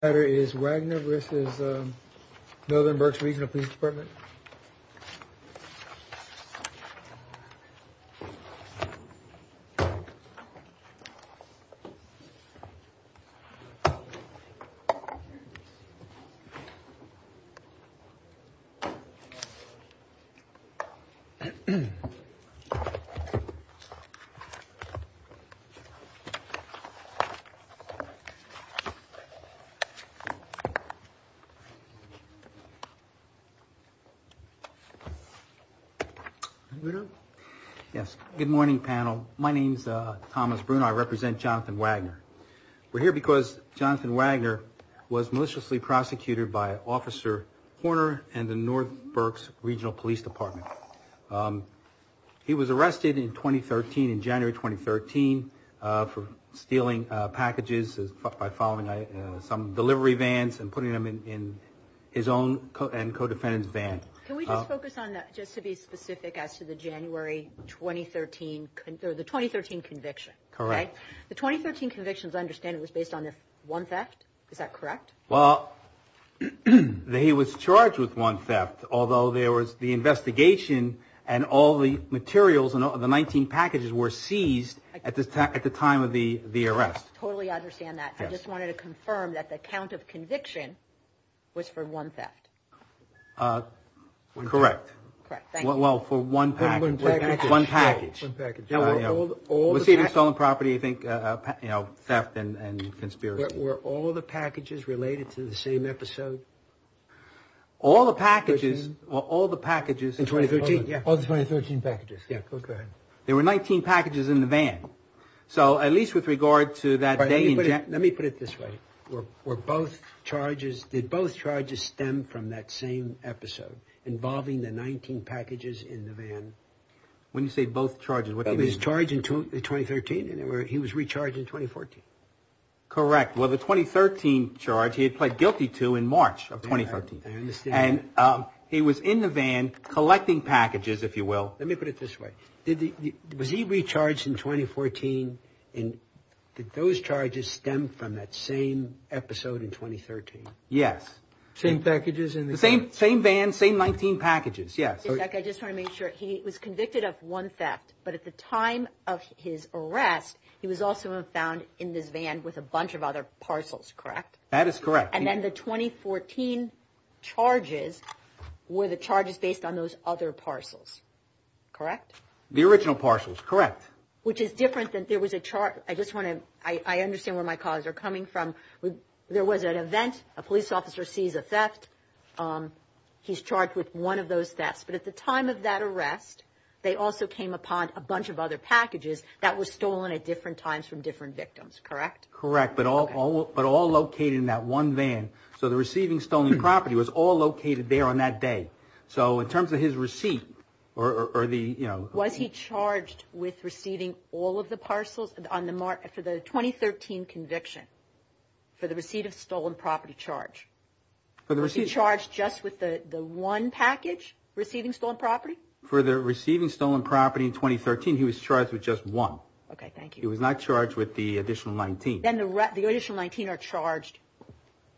The letter is Wagner v. Northern Berks Regional Police Dept. Good morning, panel. My name is Thomas Bruno. I represent Jonathan Wagner. We're here because Jonathan Wagner was maliciously prosecuted by Officer Horner and the Northern Berks Regional Police Department. He was arrested in 2013, in January 2013, for stealing packages by following some delivery vans and putting them in his own and co-defendant's van. Can we just focus on that, just to be specific as to the January 2013 conviction? Correct. The 2013 conviction, as I understand it, was based on one theft? Is that correct? Well, he was charged with one theft, although there was the investigation and all the materials and the 19 packages were seized at the time of the arrest. I totally understand that. I just wanted to confirm that the count of conviction was for one theft? Correct. Correct. Thank you. Well, for one package. One package. One package. One package. Receiving stolen property, theft and conspiracy. Were all the packages related to the same episode? All the packages. All the packages. In 2013. Yeah. All the 2013 packages. Yeah. Go ahead. There were 19 packages in the van. So at least with regard to that day in January. Let me put it this way. Were both charges, did both charges stem from that same episode involving the 19 packages in the van? When you say both charges, what do you mean? He was charged in 2013 and he was recharged in 2014. Correct. Well, the 2013 charge he had pled guilty to in March of 2013. I understand. And he was in the van collecting packages, if you will. Let me put it this way. Was he recharged in 2014 and did those charges stem from that same episode in 2013? Yes. Same packages in the van? The same van, same 19 packages. Yes. Mr. Beck, I just want to make sure. He was convicted of one theft, but at the time of his arrest, he was also found in this van with a bunch of other parcels, correct? That is correct. And then the 2014 charges, were the charges based on those other parcels, correct? The original parcels, correct. Which is different than there was a charge. I just want to – I understand where my colleagues are coming from. There was an event, a police officer sees a theft, he's charged with one of those thefts. But at the time of that arrest, they also came upon a bunch of other packages that were stolen at different times from different victims, correct? Correct, but all located in that one van. So the receiving stolen property was all located there on that day. So in terms of his receipt, or the – Was he charged with receiving all of the parcels on the – for the 2013 conviction, for the receipt of stolen property charge? He was charged just with the one package receiving stolen property? For the receiving stolen property in 2013, he was charged with just one. Okay, thank you. He was not charged with the additional 19. Then the additional 19 are charged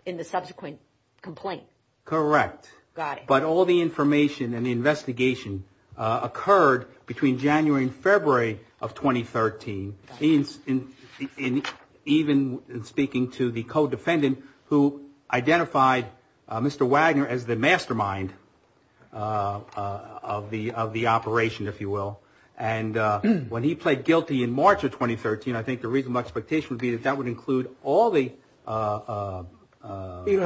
in the subsequent complaint. Correct. Got it. But all the information and the investigation occurred between January and February of 2013. Even speaking to the co-defendant who identified Mr. Wagner as the mastermind of the operation, if you will. And when he pled guilty in March of 2013, I think the reasonable expectation would be that that would include all the – No, I do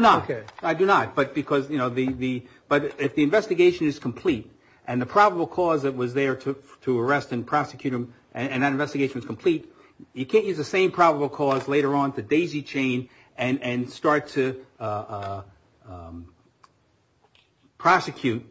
not. Okay. I do not. But because, you know, the – but if the investigation is complete, and the probable cause that was there to arrest and prosecute him, and that investigation was complete, you can't use the same probable cause later on to daisy chain and start to prosecute,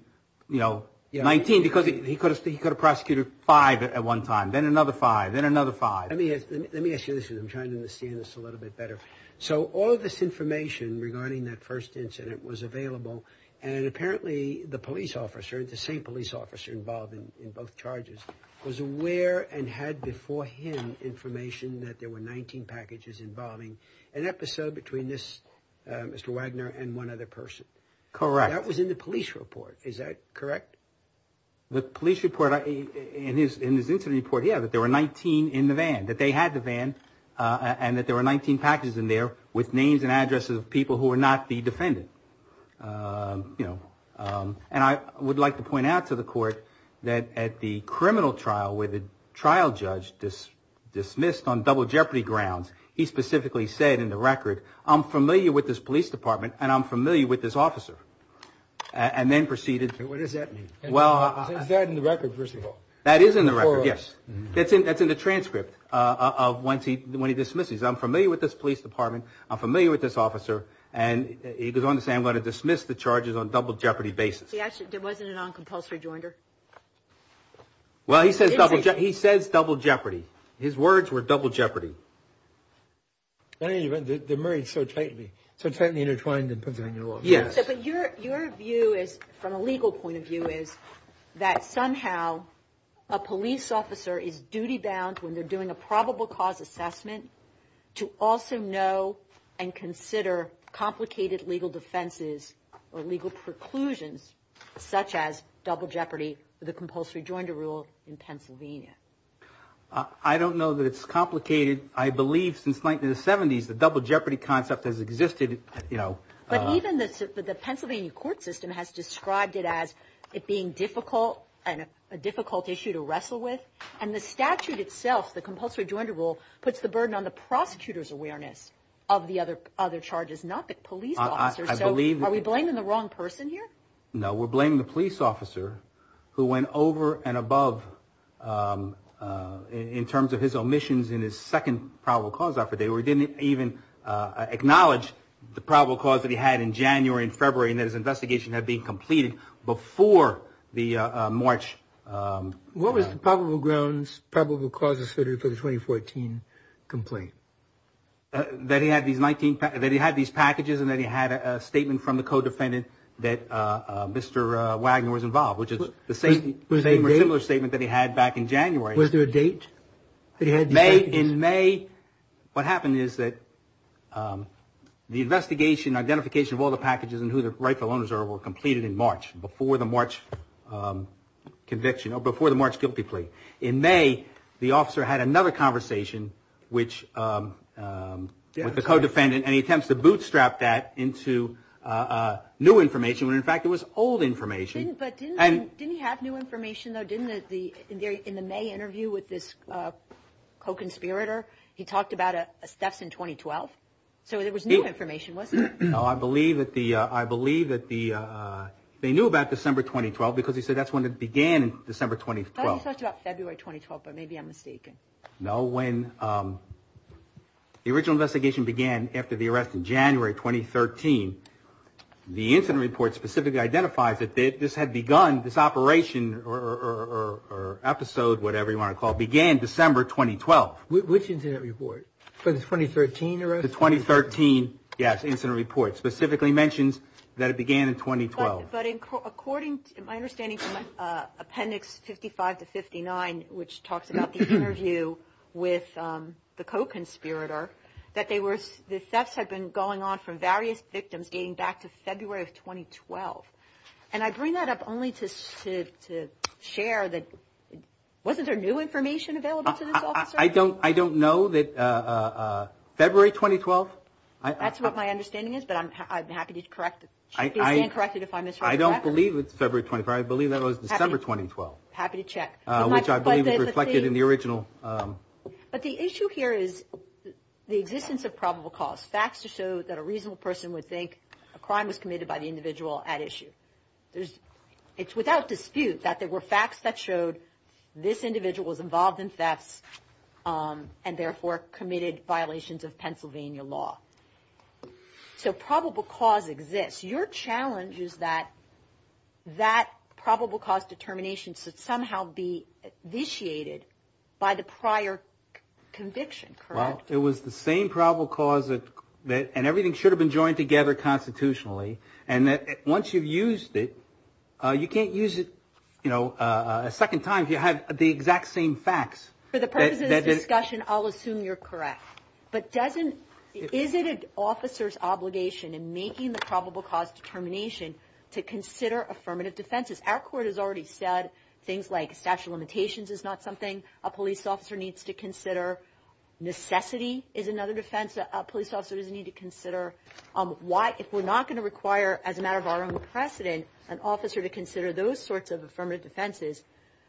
you know, 19. Because he could have prosecuted five at one time, then another five, then another five. Let me ask you this. I'm trying to understand this a little bit better. So all of this information regarding that first incident was available, and apparently the police officer, the same police officer involved in both charges, was aware and had beforehand information that there were 19 packages involving an episode between this – Mr. Wagner and one other person. Correct. That was in the police report. Is that correct? The police report – in his incident report, yeah, that there were 19 in the van, that they had the van, and that there were 19 packages in there with names and addresses of people who were not the defendant, you know. And I would like to point out to the court that at the criminal trial where the trial judge dismissed on double jeopardy grounds, he specifically said in the record, I'm familiar with this police department and I'm familiar with this officer, and then proceeded. What does that mean? Is that in the record, first of all? That is in the record, yes. That's in the transcript of when he dismisses. I'm familiar with this police department, I'm familiar with this officer, and he goes on to say I'm going to dismiss the charges on double jeopardy basis. See, actually, there wasn't a non-compulsory joinder. Well, he says double jeopardy. His words were double jeopardy. Anyway, they're married so tightly, so tightly intertwined in Pennsylvania law. Yes. But your view is, from a legal point of view, is that somehow a police officer is duty bound when they're doing a probable cause assessment to also know and consider complicated legal defenses or legal preclusions, such as double jeopardy with a compulsory joinder rule in Pennsylvania. I don't know that it's complicated. I believe since the 1970s the double jeopardy concept has existed. But even the Pennsylvania court system has described it as it being a difficult issue to wrestle with, and the statute itself, the compulsory joinder rule, puts the burden on the prosecutor's awareness of the other charges, not the police officer. So are we blaming the wrong person here? No, we're blaming the police officer who went over and above in terms of his omissions in his second probable cause effort. They didn't even acknowledge the probable cause that he had in January and February and that his investigation had been completed before the March. What was the probable grounds, probable causes for the 2014 complaint? That he had these packages and that he had a statement from the co-defendant that Mr. Wagner was involved, which is the same or similar statement that he had back in January. Was there a date that he had these packages? In May, what happened is that the investigation, identification of all the packages and who the rightful owners are were completed in March, before the March conviction or before the March guilty plea. In May, the officer had another conversation with the co-defendant and he attempts to bootstrap that into new information when in fact it was old information. But didn't he have new information though, didn't he? In the May interview with this co-conspirator, he talked about a theft in 2012. So there was new information, wasn't there? No, I believe that they knew about December 2012 because he said that's when it began in December 2012. Oh, he talked about February 2012, but maybe I'm mistaken. No, when the original investigation began after the arrest in January 2013, the incident report specifically identifies that this had begun, this operation or episode, whatever you want to call it, began December 2012. Which incident report? For the 2013 arrest? The 2013, yes, incident report specifically mentions that it began in 2012. But according to my understanding from appendix 55 to 59, which talks about the interview with the co-conspirator, that thefts had been going on from various victims dating back to February of 2012. And I bring that up only to share that wasn't there new information available to this officer? I don't know that February 2012. That's what my understanding is, but I'm happy to correct it. I don't believe it's February 2012, I believe that was December 2012. Happy to check. Which I believe is reflected in the original. But the issue here is the existence of probable cause, facts to show that a reasonable person would think a crime was committed by the individual at issue. It's without dispute that there were facts that showed this individual was involved in thefts and therefore committed violations of Pennsylvania law. So probable cause exists. Your challenge is that that probable cause determination should somehow be vitiated by the prior conviction, correct? Well, it was the same probable cause and everything should have been joined together constitutionally. And once you've used it, you can't use it a second time if you have the exact same facts. For the purposes of discussion, I'll assume you're correct. But is it an officer's obligation in making the probable cause determination to consider affirmative defenses? Our court has already said things like statute of limitations is not something a police officer needs to consider. Necessity is another defense a police officer doesn't need to consider. If we're not going to require, as a matter of our own precedent, an officer to consider those sorts of affirmative defenses,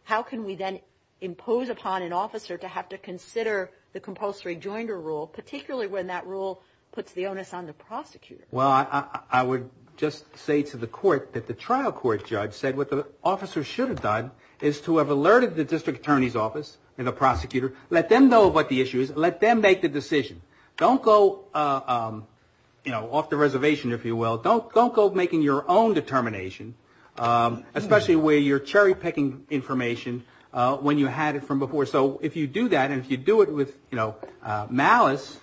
how can we then impose upon an officer to have to consider the compulsory joinder rule, particularly when that rule puts the onus on the prosecutor? Well, I would just say to the court that the trial court judge said what the officer should have done is to have alerted the district attorney's office and the prosecutor. Let them know what the issue is. Let them make the decision. Don't go, you know, off the reservation, if you will. Don't go making your own determination, especially where you're cherry picking information when you had it from before. So if you do that and if you do it with, you know, malice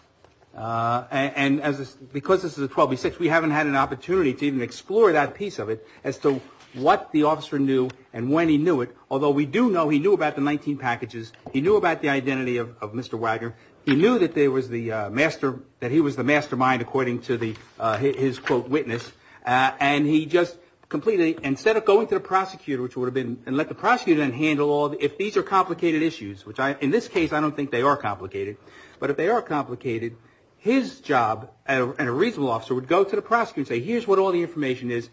and as because this is a 12-6, we haven't had an opportunity to even explore that piece of it as to what the officer knew and when he knew it. Although we do know he knew about the 19 packages. He knew about the identity of Mr. Wagner. He knew that there was the master, that he was the mastermind, according to his, quote, witness. And he just completely, instead of going to the prosecutor, which would have been, and let the prosecutor then handle all the, if these are complicated issues, which in this case I don't think they are complicated, but if they are complicated, his job as a reasonable officer would go to the prosecutor and say, here's what all the information is.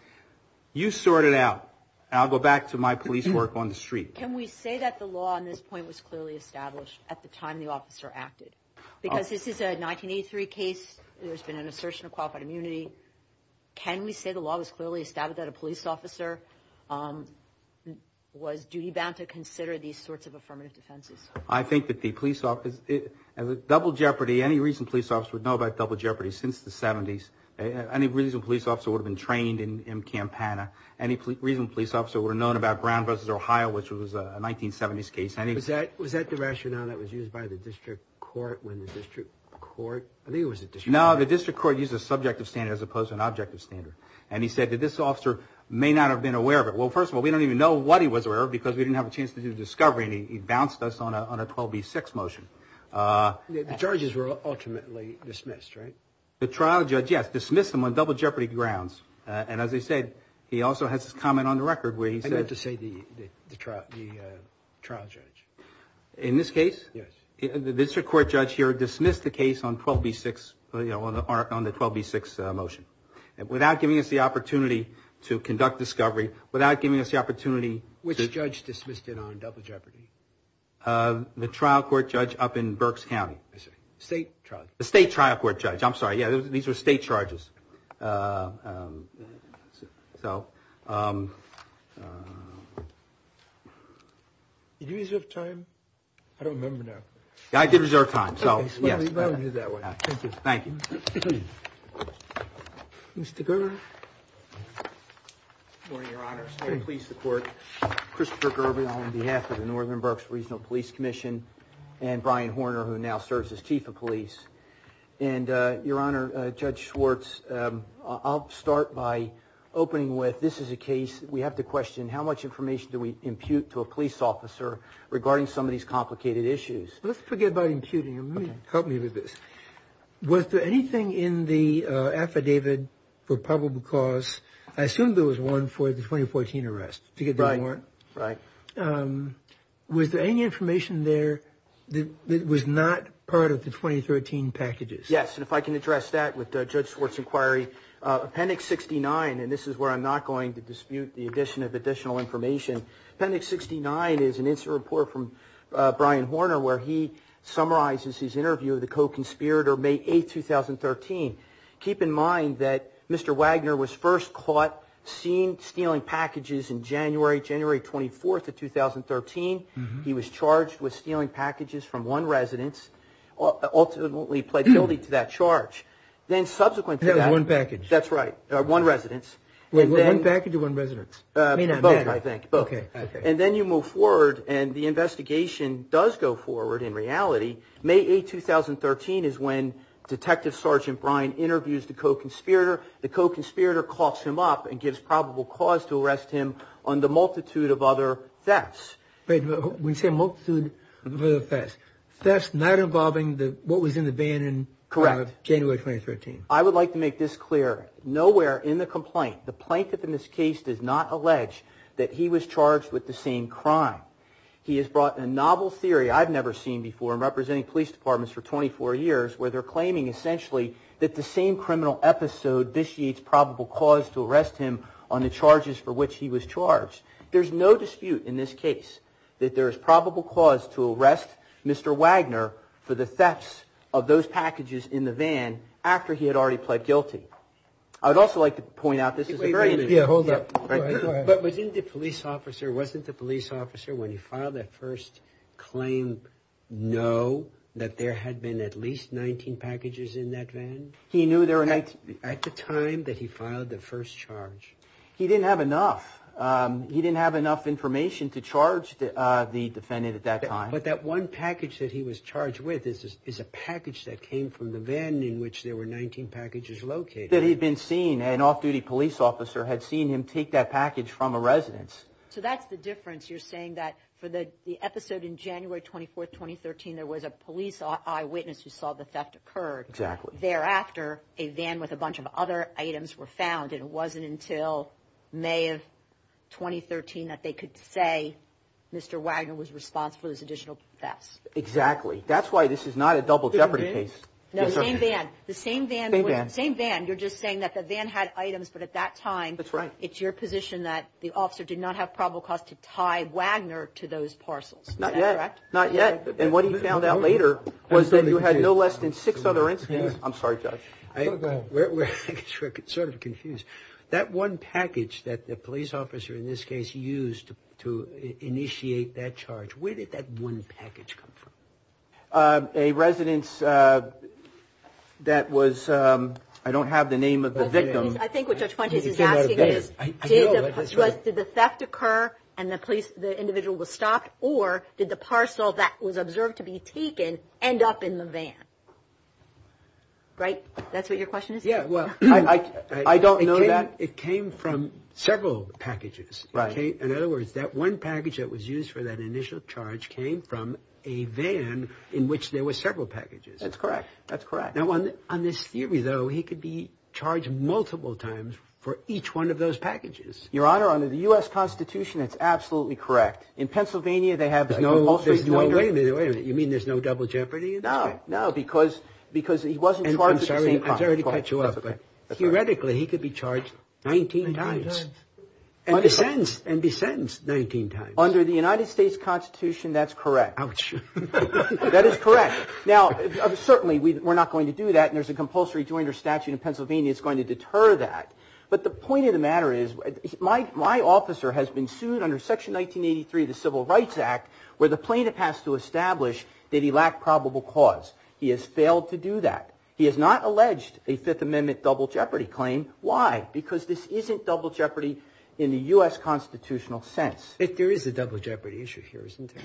You sort it out. I'll go back to my police work on the street. Can we say that the law on this point was clearly established at the time the officer acted? Because this is a 1983 case. There's been an assertion of qualified immunity. Can we say the law was clearly established that a police officer was duty-bound to consider these sorts of affirmative defenses? I think that the police officer, double jeopardy, any reason police officers would know about double jeopardy since the 70s, any reason a police officer would have been trained in Campana, any reason a police officer would have known about Brown v. Ohio, which was a 1970s case. Was that the rationale that was used by the district court when the district court, I think it was the district court. No, the district court used a subjective standard as opposed to an objective standard. And he said that this officer may not have been aware of it. Well, first of all, we don't even know what he was aware of because we didn't have a chance to do the discovery, and he bounced us on a 12B6 motion. The charges were ultimately dismissed, right? The trial judge, yes, dismissed him on double jeopardy grounds. And as I said, he also has this comment on the record where he says. I'd like to say the trial judge. In this case? Yes. The district court judge here dismissed the case on 12B6, you know, on the 12B6 motion. Without giving us the opportunity to conduct discovery, without giving us the opportunity. Which judge dismissed it on double jeopardy? The trial court judge up in Berks County. State trial. The state trial court judge. I'm sorry. Yeah, these were state charges. So. Did you reserve time? I don't remember now. I did reserve time. So, yes. Thank you. Thank you. Mr. Gerber. Good morning, Your Honor. I just want to please support Christopher Gerber on behalf of the Northern Berks Regional Police Commission and Brian Horner, who now serves as chief of police. And, Your Honor, Judge Schwartz, I'll start by opening with this is a case. We have to question how much information do we impute to a police officer regarding some of these complicated issues? Let's forget about imputing. Help me with this. Was there anything in the affidavit for probable cause? I assume there was one for the 2014 arrest. Right. Right. Was there any information there that was not part of the 2013 packages? Yes, and if I can address that with Judge Schwartz's inquiry. Appendix 69, and this is where I'm not going to dispute the addition of additional information. Appendix 69 is an incident report from Brian Horner where he summarizes his interview of the co-conspirator May 8, 2013. Keep in mind that Mr. Wagner was first caught seen stealing packages in January, January 24th of 2013. He was charged with stealing packages from one residence, ultimately pled guilty to that charge. Then, subsequent to that. One package. That's right. One residence. One package or one residence? Both, I think. Both. Okay. And then you move forward and the investigation does go forward in reality. May 8, 2013 is when Detective Sergeant Brian interviews the co-conspirator. The co-conspirator coughs him up and gives probable cause to arrest him on the multitude of other thefts. Wait. When you say multitude of other thefts. Thefts not involving what was in the van in January 2013. Correct. I would like to make this clear. Nowhere in the complaint, the plaintiff in this case does not allege that he was charged with the same crime. He has brought a novel theory I've never seen before in representing police departments for 24 years. Where they're claiming essentially that the same criminal episode vitiates probable cause to arrest him on the charges for which he was charged. There's no dispute in this case that there is probable cause to arrest Mr. Wagner for the thefts of those packages in the van after he had already pled guilty. I would also like to point out this is a very. Yeah, hold up. But wasn't the police officer, wasn't the police officer when he filed that first claim know that there had been at least 19 packages in that van? He knew there were 19. At the time that he filed the first charge. He didn't have enough. He didn't have enough information to charge the defendant at that time. But that one package that he was charged with is a package that came from the van in which there were 19 packages located. An off-duty police officer had seen him take that package from a residence. So that's the difference. You're saying that for the episode in January 24th, 2013, there was a police eyewitness who saw the theft occurred. Exactly. Thereafter, a van with a bunch of other items were found. And it wasn't until May of 2013 that they could say Mr. Wagner was responsible for those additional thefts. Exactly. That's why this is not a double jeopardy case. No, same van. The same van. Same van. You're just saying that the van had items. But at that time. That's right. It's your position that the officer did not have probable cause to tie Wagner to those parcels. Not yet. Not yet. And what he found out later was that you had no less than six other incidents. I'm sorry, Judge. Go ahead. We're sort of confused. That one package that the police officer in this case used to initiate that charge, where did that one package come from? A residence that was, I don't have the name of the victim. I think what Judge Fuentes is asking is, did the theft occur and the police, the individual was stopped? Or did the parcel that was observed to be taken end up in the van? Right? That's what your question is? Yeah. Well, I don't know that. It came from several packages. Right. Okay. In other words, that one package that was used for that initial charge came from a van in which there were several packages. That's correct. That's correct. Now, on this theory, though, he could be charged multiple times for each one of those packages. Your Honor, under the U.S. Constitution, it's absolutely correct. In Pennsylvania, they have no. Wait a minute. Wait a minute. You mean there's no double jeopardy? No. No. Because he wasn't charged at the same time. I'm sorry to cut you off. But theoretically, he could be charged 19 times. And be sentenced 19 times. Under the United States Constitution, that's correct. Ouch. That is correct. Now, certainly, we're not going to do that. And there's a compulsory jointer statute in Pennsylvania that's going to deter that. But the point of the matter is my officer has been sued under Section 1983 of the Civil Rights Act where the plaintiff has to establish that he lacked probable cause. He has failed to do that. He has not alleged a Fifth Amendment double jeopardy claim. Why? Because this isn't double jeopardy in the U.S. Constitutional sense. There is a double jeopardy issue here, isn't there?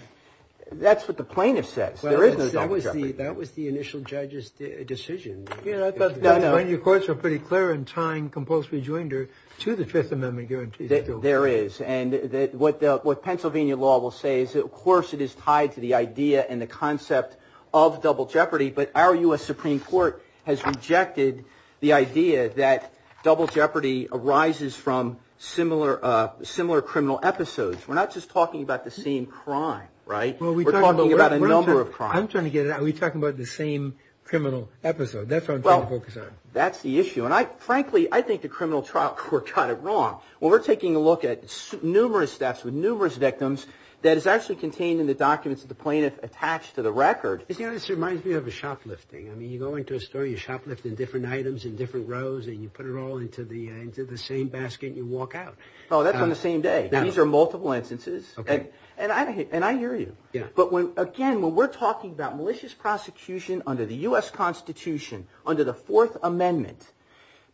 That's what the plaintiff says. There is no double jeopardy. That was the initial judge's decision. No, no. Your courts were pretty clear in tying compulsory jointer to the Fifth Amendment guarantees. There is. And what Pennsylvania law will say is, of course, it is tied to the idea and the concept of double jeopardy. But our U.S. Supreme Court has rejected the idea that double jeopardy arises from similar criminal episodes. We're not just talking about the same crime, right? We're talking about a number of crimes. I'm trying to get it out. Are we talking about the same criminal episode? That's what I'm trying to focus on. Well, that's the issue. And, frankly, I think the criminal trial court got it wrong. When we're taking a look at numerous thefts with numerous victims that is actually contained in the documents that the plaintiff attached to the record. This reminds me of a shoplifting. I mean, you go into a store, you shoplift in different items in different rows, and you put it all into the same basket and you walk out. Oh, that's on the same day. These are multiple instances. Okay. And I hear you. Yeah. But, again, when we're talking about malicious prosecution under the U.S. Constitution, under the Fourth Amendment,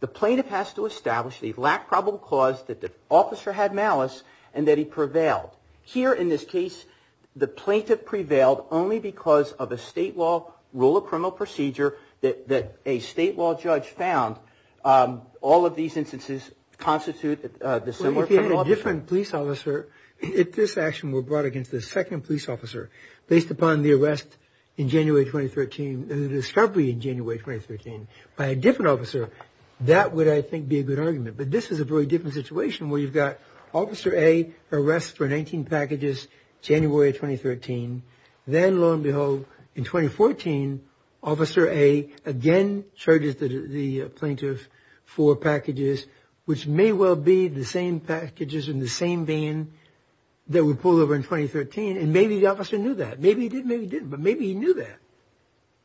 the plaintiff has to establish that he lacked probable cause, that the officer had malice, and that he prevailed. Here, in this case, the plaintiff prevailed only because of a state law rule of criminal procedure that a state law judge found. All of these instances constitute the similar criminal episode. If you had a different police officer, if this action were brought against a second police officer based upon the arrest in January 2013, the discovery in January 2013 by a different officer, that would, I think, be a good argument. But this is a very different situation where you've got Officer A arrested for 19 packages January of 2013. Then, lo and behold, in 2014, Officer A again charges the plaintiff for packages, which may well be the same packages in the same van that were pulled over in 2013, and maybe the officer knew that. Maybe he did, maybe he didn't, but maybe he knew that.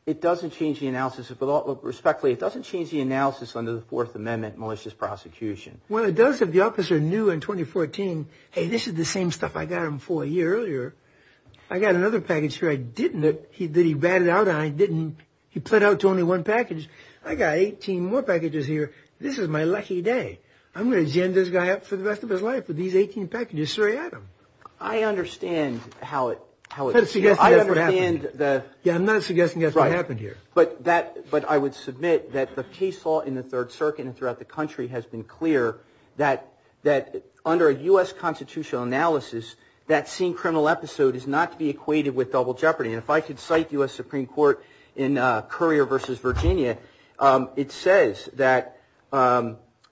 It doesn't change the analysis, respectfully, it doesn't change the analysis under the Fourth Amendment malicious prosecution. Well, it does if the officer knew in 2014, hey, this is the same stuff I got him for a year earlier. I got another package here I didn't, that he ratted out, and I didn't. He pled out to only one package. I got 18 more packages here. This is my lucky day. I'm going to gen this guy up for the rest of his life with these 18 packages, so I got him. I understand how it – Yeah, I'm not suggesting that's what happened here. Right. But I would submit that the case law in the Third Circuit and throughout the country has been clear that under a U.S. constitutional analysis, that same criminal episode is not to be equated with double jeopardy. And if I could cite U.S. Supreme Court in Currier v. Virginia, it says that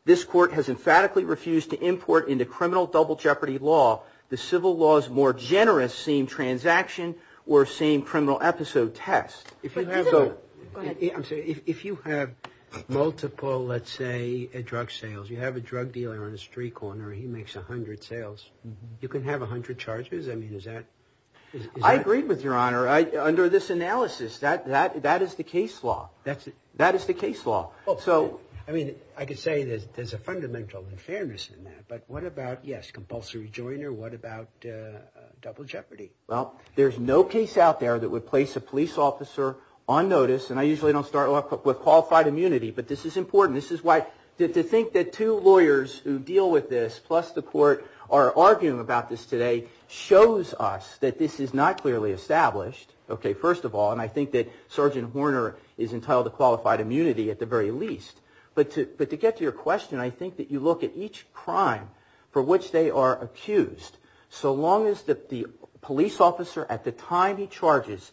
this court has emphatically refused to import into criminal double jeopardy law the civil law's more generous same transaction or same criminal episode test. If you have – Go ahead. I'm sorry. If you have multiple, let's say, drug sales, you have a drug dealer on a street corner, he makes 100 sales. You can have 100 charges? I mean, is that – I agree with Your Honor. Under this analysis, that is the case law. That's – That is the case law. Well, so – I mean, I could say there's a fundamental unfairness in that. But what about, yes, compulsory joiner. What about double jeopardy? Well, there's no case out there that would place a police officer on notice, and I usually don't start off with qualified immunity. But this is important. This is why to think that two lawyers who deal with this plus the court are arguing about this today shows us that this is not clearly established. Okay, first of all, and I think that Sergeant Horner is entitled to qualified immunity at the very least. But to get to your question, I think that you look at each crime for which they are accused. So long as the police officer at the time he charges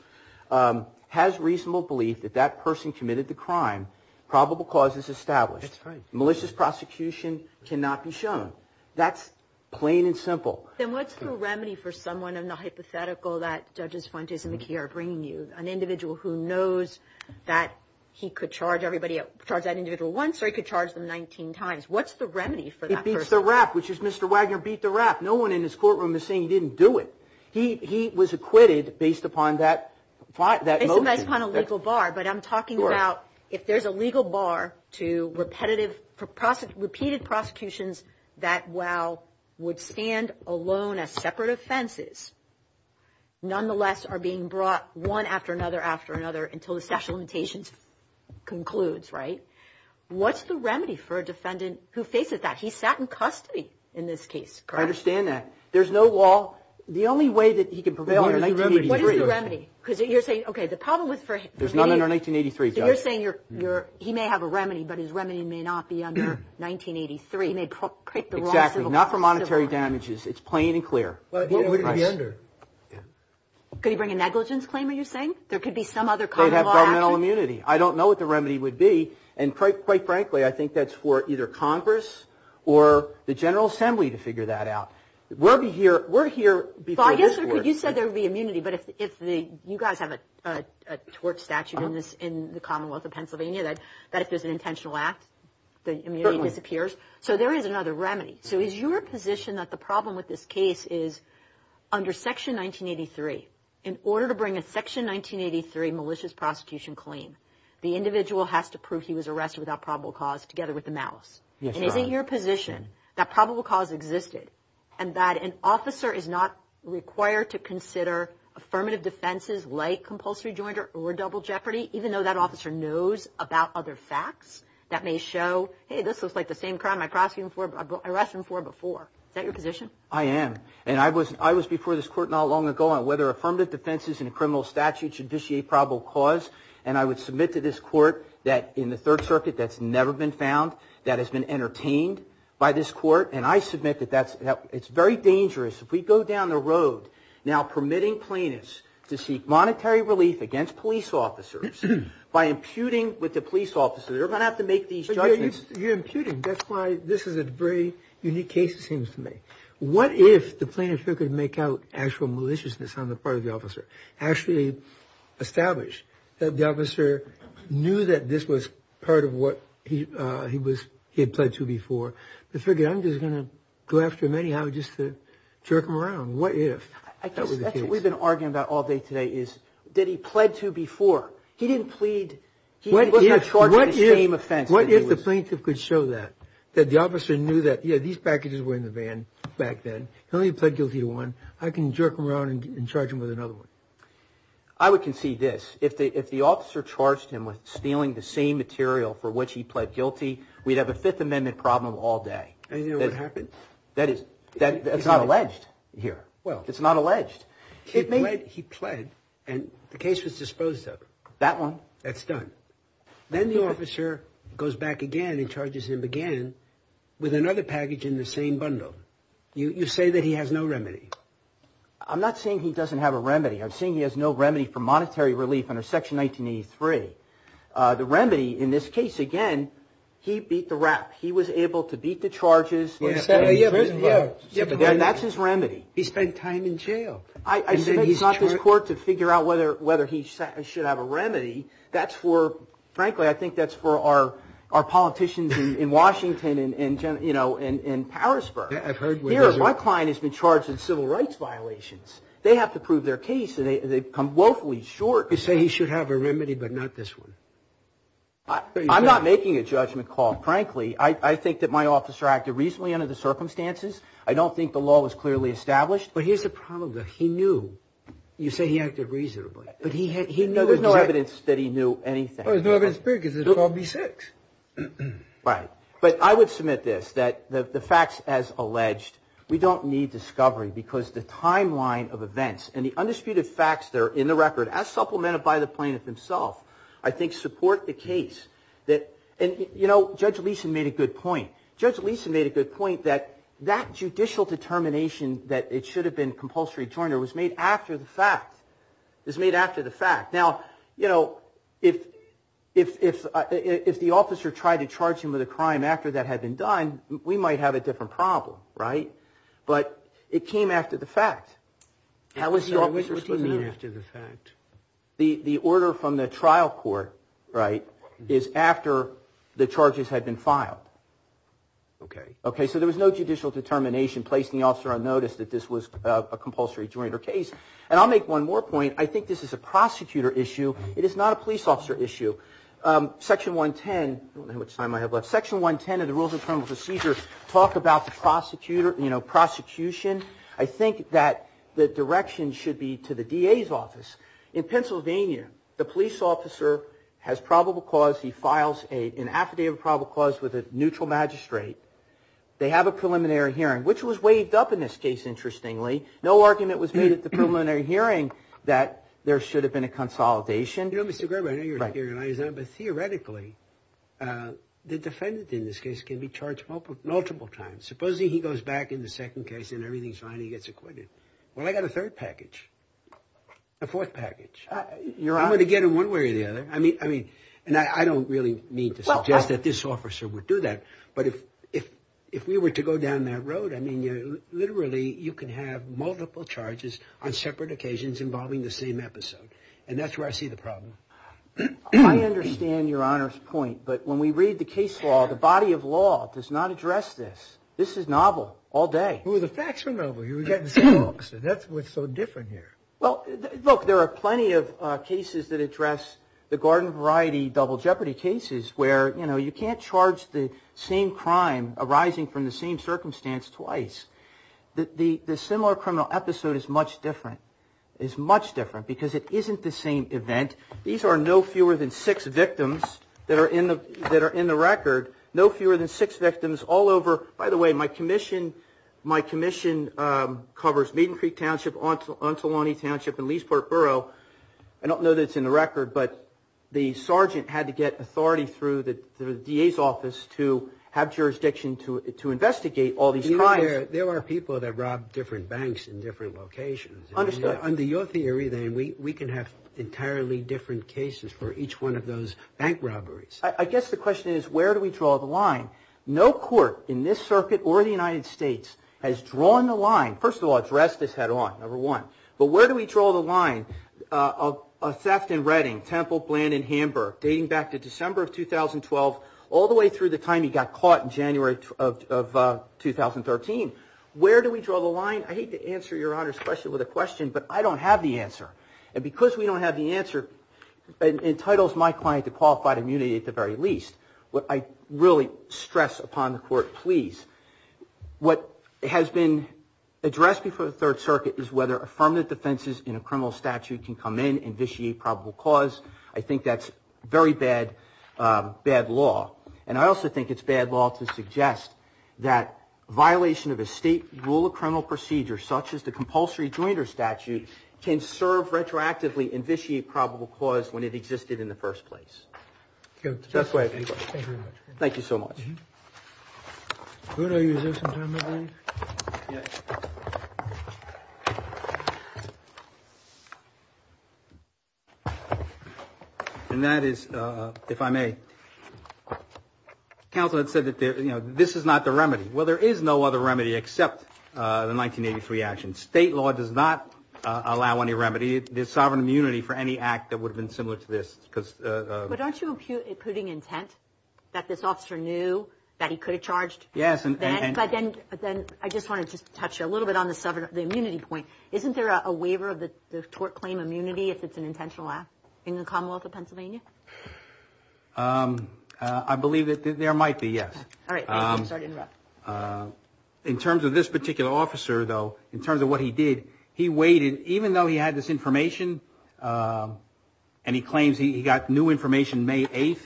has reasonable belief that that person committed the crime, probable cause is established. That's right. Malicious prosecution cannot be shown. That's plain and simple. Then what's the remedy for someone in the hypothetical that Judges Fuentes and McKee are bringing you, an individual who knows that he could charge everybody – charge that individual once or he could charge them 19 times? What's the remedy for that person? He beats the rap, which is Mr. Wagner beat the rap. No one in this courtroom is saying he didn't do it. He was acquitted based upon that motive. Based upon a legal bar. But I'm talking about if there's a legal bar to repetitive – repeated prosecutions that, while would stand alone as separate offenses, nonetheless are being brought one after another after another until the statute of limitations concludes, right? What's the remedy for a defendant who faces that? He sat in custody in this case, correct? I understand that. There's no law. The only way that he could prevail in 1983. What is the remedy? Because you're saying, okay, the problem with – There's none under 1983, Judge. So you're saying you're – he may have a remedy, but his remedy may not be under 1983. He may create the wrong civil – Exactly. Not for monetary damages. It's plain and clear. What would he be under? Could he bring a negligence claim, are you saying? There could be some other common law action. They'd have governmental immunity. I don't know what the remedy would be. And quite frankly, I think that's for either Congress or the General Assembly to figure that out. We'll be here – we're here before this court. You said there would be immunity, but if the – you guys have a tort statute in the Commonwealth of Pennsylvania that if there's an intentional act, the immunity disappears. So there is another remedy. So is your position that the problem with this case is under Section 1983, in order to bring a Section 1983 malicious prosecution claim, the individual has to prove he was arrested without probable cause together with the malice? Yes, Your Honor. Is it your position that probable cause existed and that an officer is not required to consider affirmative defenses like compulsory joint or double jeopardy, even though that officer knows about other facts that may show, hey, this looks like the same crime I arrested him for before. Is that your position? I am. And I was before this court not long ago on whether affirmative defenses in a criminal statute should vitiate probable cause, and I would submit to this court that in the Third Circuit that's never been found, that has been entertained by this court, and I submit that that's – it's very dangerous. If we go down the road now permitting plaintiffs to seek monetary relief against police officers by imputing with the police officer, they're going to have to make these judgments. You're imputing. That's why this is a very unique case, it seems to me. What if the plaintiff could make out actual maliciousness on the part of the officer, actually establish that the officer knew that this was part of what he had pled to before, but figured I'm just going to go after him anyhow just to jerk him around? What if that was the case? I guess that's what we've been arguing about all day today is that he pled to before. He didn't plead – he wasn't charged with the same offense that he was. What if the plaintiff could show that, that the officer knew that, yeah, these packages were in the van back then, he only pled guilty to one, I can jerk him around and charge him with another one? I would concede this. If the officer charged him with stealing the same material for which he pled guilty, we'd have a Fifth Amendment problem all day. And you know what happened? That is – that's not alleged here. It's not alleged. He pled and the case was disposed of. That one? That's done. Then the officer goes back again and charges him again with another package in the same bundle. You say that he has no remedy. I'm not saying he doesn't have a remedy. I'm saying he has no remedy for monetary relief under Section 1983. The remedy in this case, again, he beat the rap. He was able to beat the charges. Yeah, but then that's his remedy. He spent time in jail. I said it's not this court to figure out whether he should have a remedy. That's for – frankly, I think that's for our politicians in Washington and, you know, in Parisburg. Here, my client has been charged with civil rights violations. They have to prove their case. They've come woefully short. You say he should have a remedy but not this one. I'm not making a judgment call, frankly. I think that my officer acted reasonably under the circumstances. I don't think the law was clearly established. But here's the problem, though. He knew. You say he acted reasonably. But he knew. There's no evidence that he knew anything. There's no evidence because it's called B-6. Right. But I would submit this, that the facts as alleged, we don't need discovery because the timeline of events and the undisputed facts that are in the record, as supplemented by the plaintiff himself, I think support the case. And, you know, Judge Leeson made a good point. Judge Leeson made a good point that that judicial determination that it should have been compulsory joiner was made after the fact. It was made after the fact. Now, you know, if the officer tried to charge him with a crime after that had been done, we might have a different problem, right? But it came after the fact. What do you mean after the fact? The order from the trial court, right, is after the charges had been filed. Okay. Okay, so there was no judicial determination placing the officer on notice that this was a compulsory joiner case. And I'll make one more point. I think this is a prosecutor issue. It is not a police officer issue. Section 110, I don't know how much time I have left, Section 110 of the Rules of Criminal Procedure talk about the prosecutor, you know, prosecution. I think that the direction should be to the DA's office. In Pennsylvania, the police officer has probable cause. He files an affidavit of probable cause with a neutral magistrate. They have a preliminary hearing, which was waived up in this case, interestingly. No argument was made at the preliminary hearing that there should have been a consolidation. You know, Mr. Graber, I know you're here, but theoretically, the defendant in this case can be charged multiple times. Supposing he goes back in the second case and everything's fine and he gets acquitted. Well, I got a third package, a fourth package. I'm going to get him one way or the other. I mean, and I don't really mean to suggest that this officer would do that, but if we were to go down that road, I mean, literally, you can have multiple charges on separate occasions involving the same episode. And that's where I see the problem. I understand Your Honor's point, but when we read the case law, the body of law does not address this. This is novel all day. Well, the facts are novel. You were getting some books. That's what's so different here. Well, look, there are plenty of cases that address the garden variety double jeopardy cases where, you know, it's the same crime arising from the same circumstance twice. The similar criminal episode is much different. It's much different because it isn't the same event. These are no fewer than six victims that are in the record, no fewer than six victims all over. By the way, my commission covers Maiden Creek Township, Ontolonee Township, and Leesburg Borough. I don't know that it's in the record, but the sergeant had to get authority through the DA's office to have jurisdiction to investigate all these crimes. There are people that rob different banks in different locations. Understood. Under your theory, then, we can have entirely different cases for each one of those bank robberies. I guess the question is where do we draw the line? No court in this circuit or the United States has drawn the line. First of all, address this head on, number one. But where do we draw the line of theft in Redding, Temple, Bland, and Hamburg, dating back to December of 2012, all the way through the time he got caught in January of 2013? Where do we draw the line? I hate to answer your Honor's question with a question, but I don't have the answer. And because we don't have the answer, it entitles my client to qualified immunity at the very least. What I really stress upon the court, please, what has been addressed before the Third Circuit is whether affirmative defenses in a criminal statute can come in and vitiate probable cause. I think that's very bad law. And I also think it's bad law to suggest that violation of a state rule of criminal procedure, such as the compulsory jointer statute, can serve retroactively and vitiate probable cause when it existed in the first place. Thank you very much. Thank you so much. Thank you. And that is, if I may, counsel had said that this is not the remedy. Well, there is no other remedy except the 1983 action. State law does not allow any remedy. There's sovereign immunity for any act that would have been similar to this. But aren't you imputing intent that this officer knew that he could have charged? Yes. But then I just wanted to touch a little bit on the immunity point. Isn't there a waiver of the tort claim immunity if it's an intentional act in the Commonwealth of Pennsylvania? I believe that there might be, yes. All right. I'm sorry to interrupt. In terms of this particular officer, though, in terms of what he did, he waited. Even though he had this information and he claims he got new information May 8th,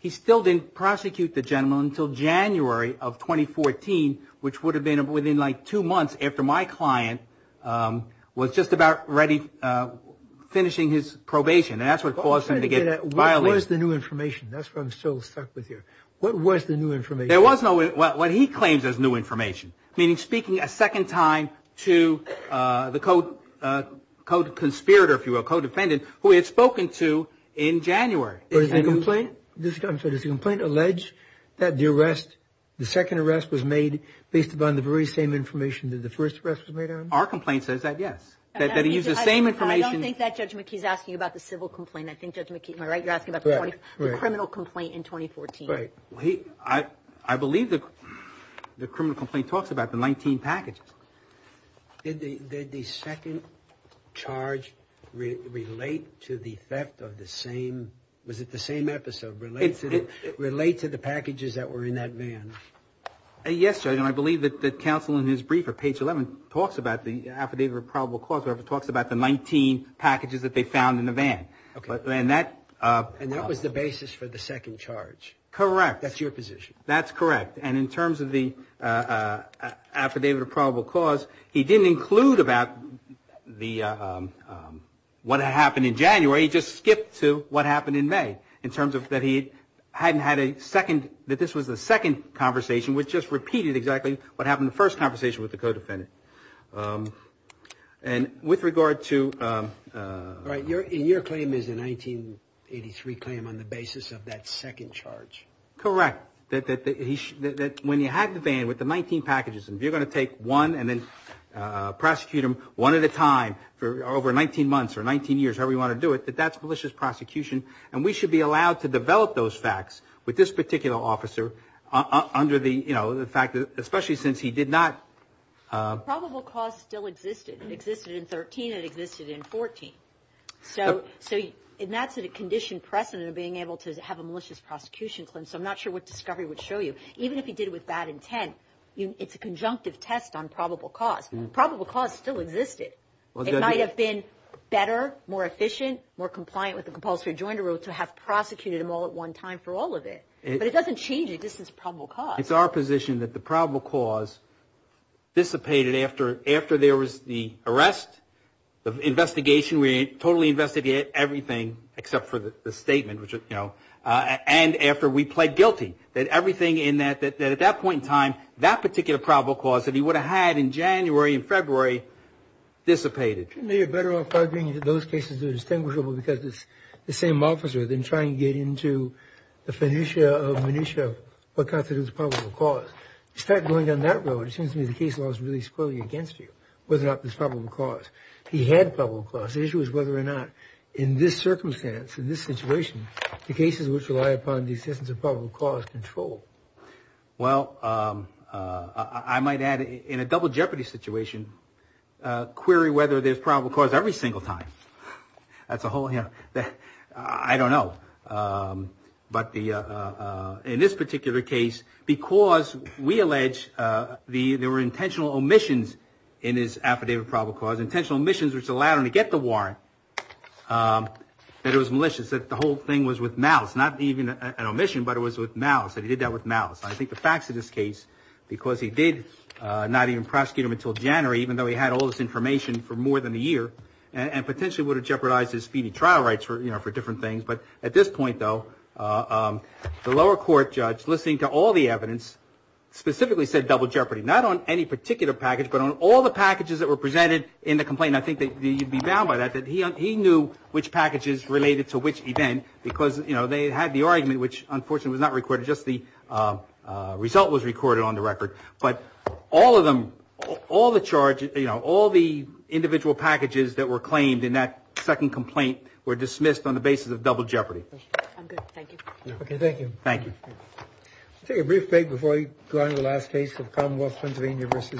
he still didn't prosecute the gentleman until January of 2014, which would have been within like two months after my client was just about ready finishing his probation. And that's what caused him to get violated. What was the new information? That's what I'm still stuck with here. What was the new information? There was no what he claims as new information, meaning speaking a second time to the co-conspirator, if you will, co-defendant, who he had spoken to in January. Does the complaint allege that the second arrest was made based upon the very same information that the first arrest was made on? Our complaint says that, yes, that he used the same information. I don't think that Judge McKee is asking about the civil complaint. I think, Judge McKee, am I right? You're asking about the criminal complaint in 2014. Right. I believe the criminal complaint talks about the 19 packages. Did the second charge relate to the theft of the same, was it the same episode, relate to the packages that were in that van? Yes, Judge, and I believe that the counsel in his briefer, page 11, talks about the affidavit of probable cause, where it talks about the 19 packages that they found in the van. And that was the basis for the second charge? Correct. That's your position. That's correct. And in terms of the affidavit of probable cause, he didn't include about what happened in January. He just skipped to what happened in May, in terms of that he hadn't had a second, that this was the second conversation, which just repeated exactly what happened in the first conversation with the co-defendant. And with regard to... All right, and your claim is a 1983 claim on the basis of that second charge. Correct. That when you had the van with the 19 packages, and you're going to take one and then prosecute him one at a time for over 19 months or 19 years, however you want to do it, that that's malicious prosecution. And we should be allowed to develop those facts with this particular officer under the fact that, especially since he did not... Probable cause still existed. It existed in 13 and it existed in 14. So that's a conditioned precedent of being able to have a malicious prosecution claim. So I'm not sure what discovery would show you. Even if he did it with bad intent, it's a conjunctive test on probable cause. Probable cause still existed. It might have been better, more efficient, more compliant with the compulsory rejoinder rule to have prosecuted him all at one time for all of it. But it doesn't change the existence of probable cause. It's our position that the probable cause dissipated after there was the arrest, the investigation, we totally investigated everything except for the statement, and after we pled guilty, that everything in that, that at that point in time, that particular probable cause that he would have had in January and February dissipated. You're better off arguing that those cases are distinguishable because it's the same officer than trying to get into the finitia of minutia of what constitutes probable cause. You start going down that road, it seems to me the case law is really squarely against you, whether or not there's probable cause. He had probable cause. The issue is whether or not in this circumstance, in this situation, the cases which rely upon the existence of probable cause control. Well, I might add, in a double jeopardy situation, query whether there's probable cause every single time. That's a whole, you know, I don't know. But in this particular case, because we allege there were intentional omissions in his affidavit of probable cause, intentional omissions which allowed him to get the warrant, that it was malicious, that the whole thing was with malice, not even an omission, but it was with malice, that he did that with malice. I think the facts of this case, because he did not even prosecute him until January, even though he had all this information for more than a year, and potentially would have jeopardized his feeding trial rights for different things. But at this point, though, the lower court judge, listening to all the evidence, specifically said double jeopardy, not on any particular package, but on all the packages that were presented in the complaint. I think that you'd be bound by that, that he knew which packages related to which event, because, you know, they had the argument, which, unfortunately, was not recorded. Just the result was recorded on the record. But all of them, all the charges, you know, all the individual packages that were claimed in that second complaint were dismissed on the basis of double jeopardy. I'm good. Thank you. Okay. Thank you. Thank you. I'll take a brief break before I go on to the last case of Commonwealth Pennsylvania v.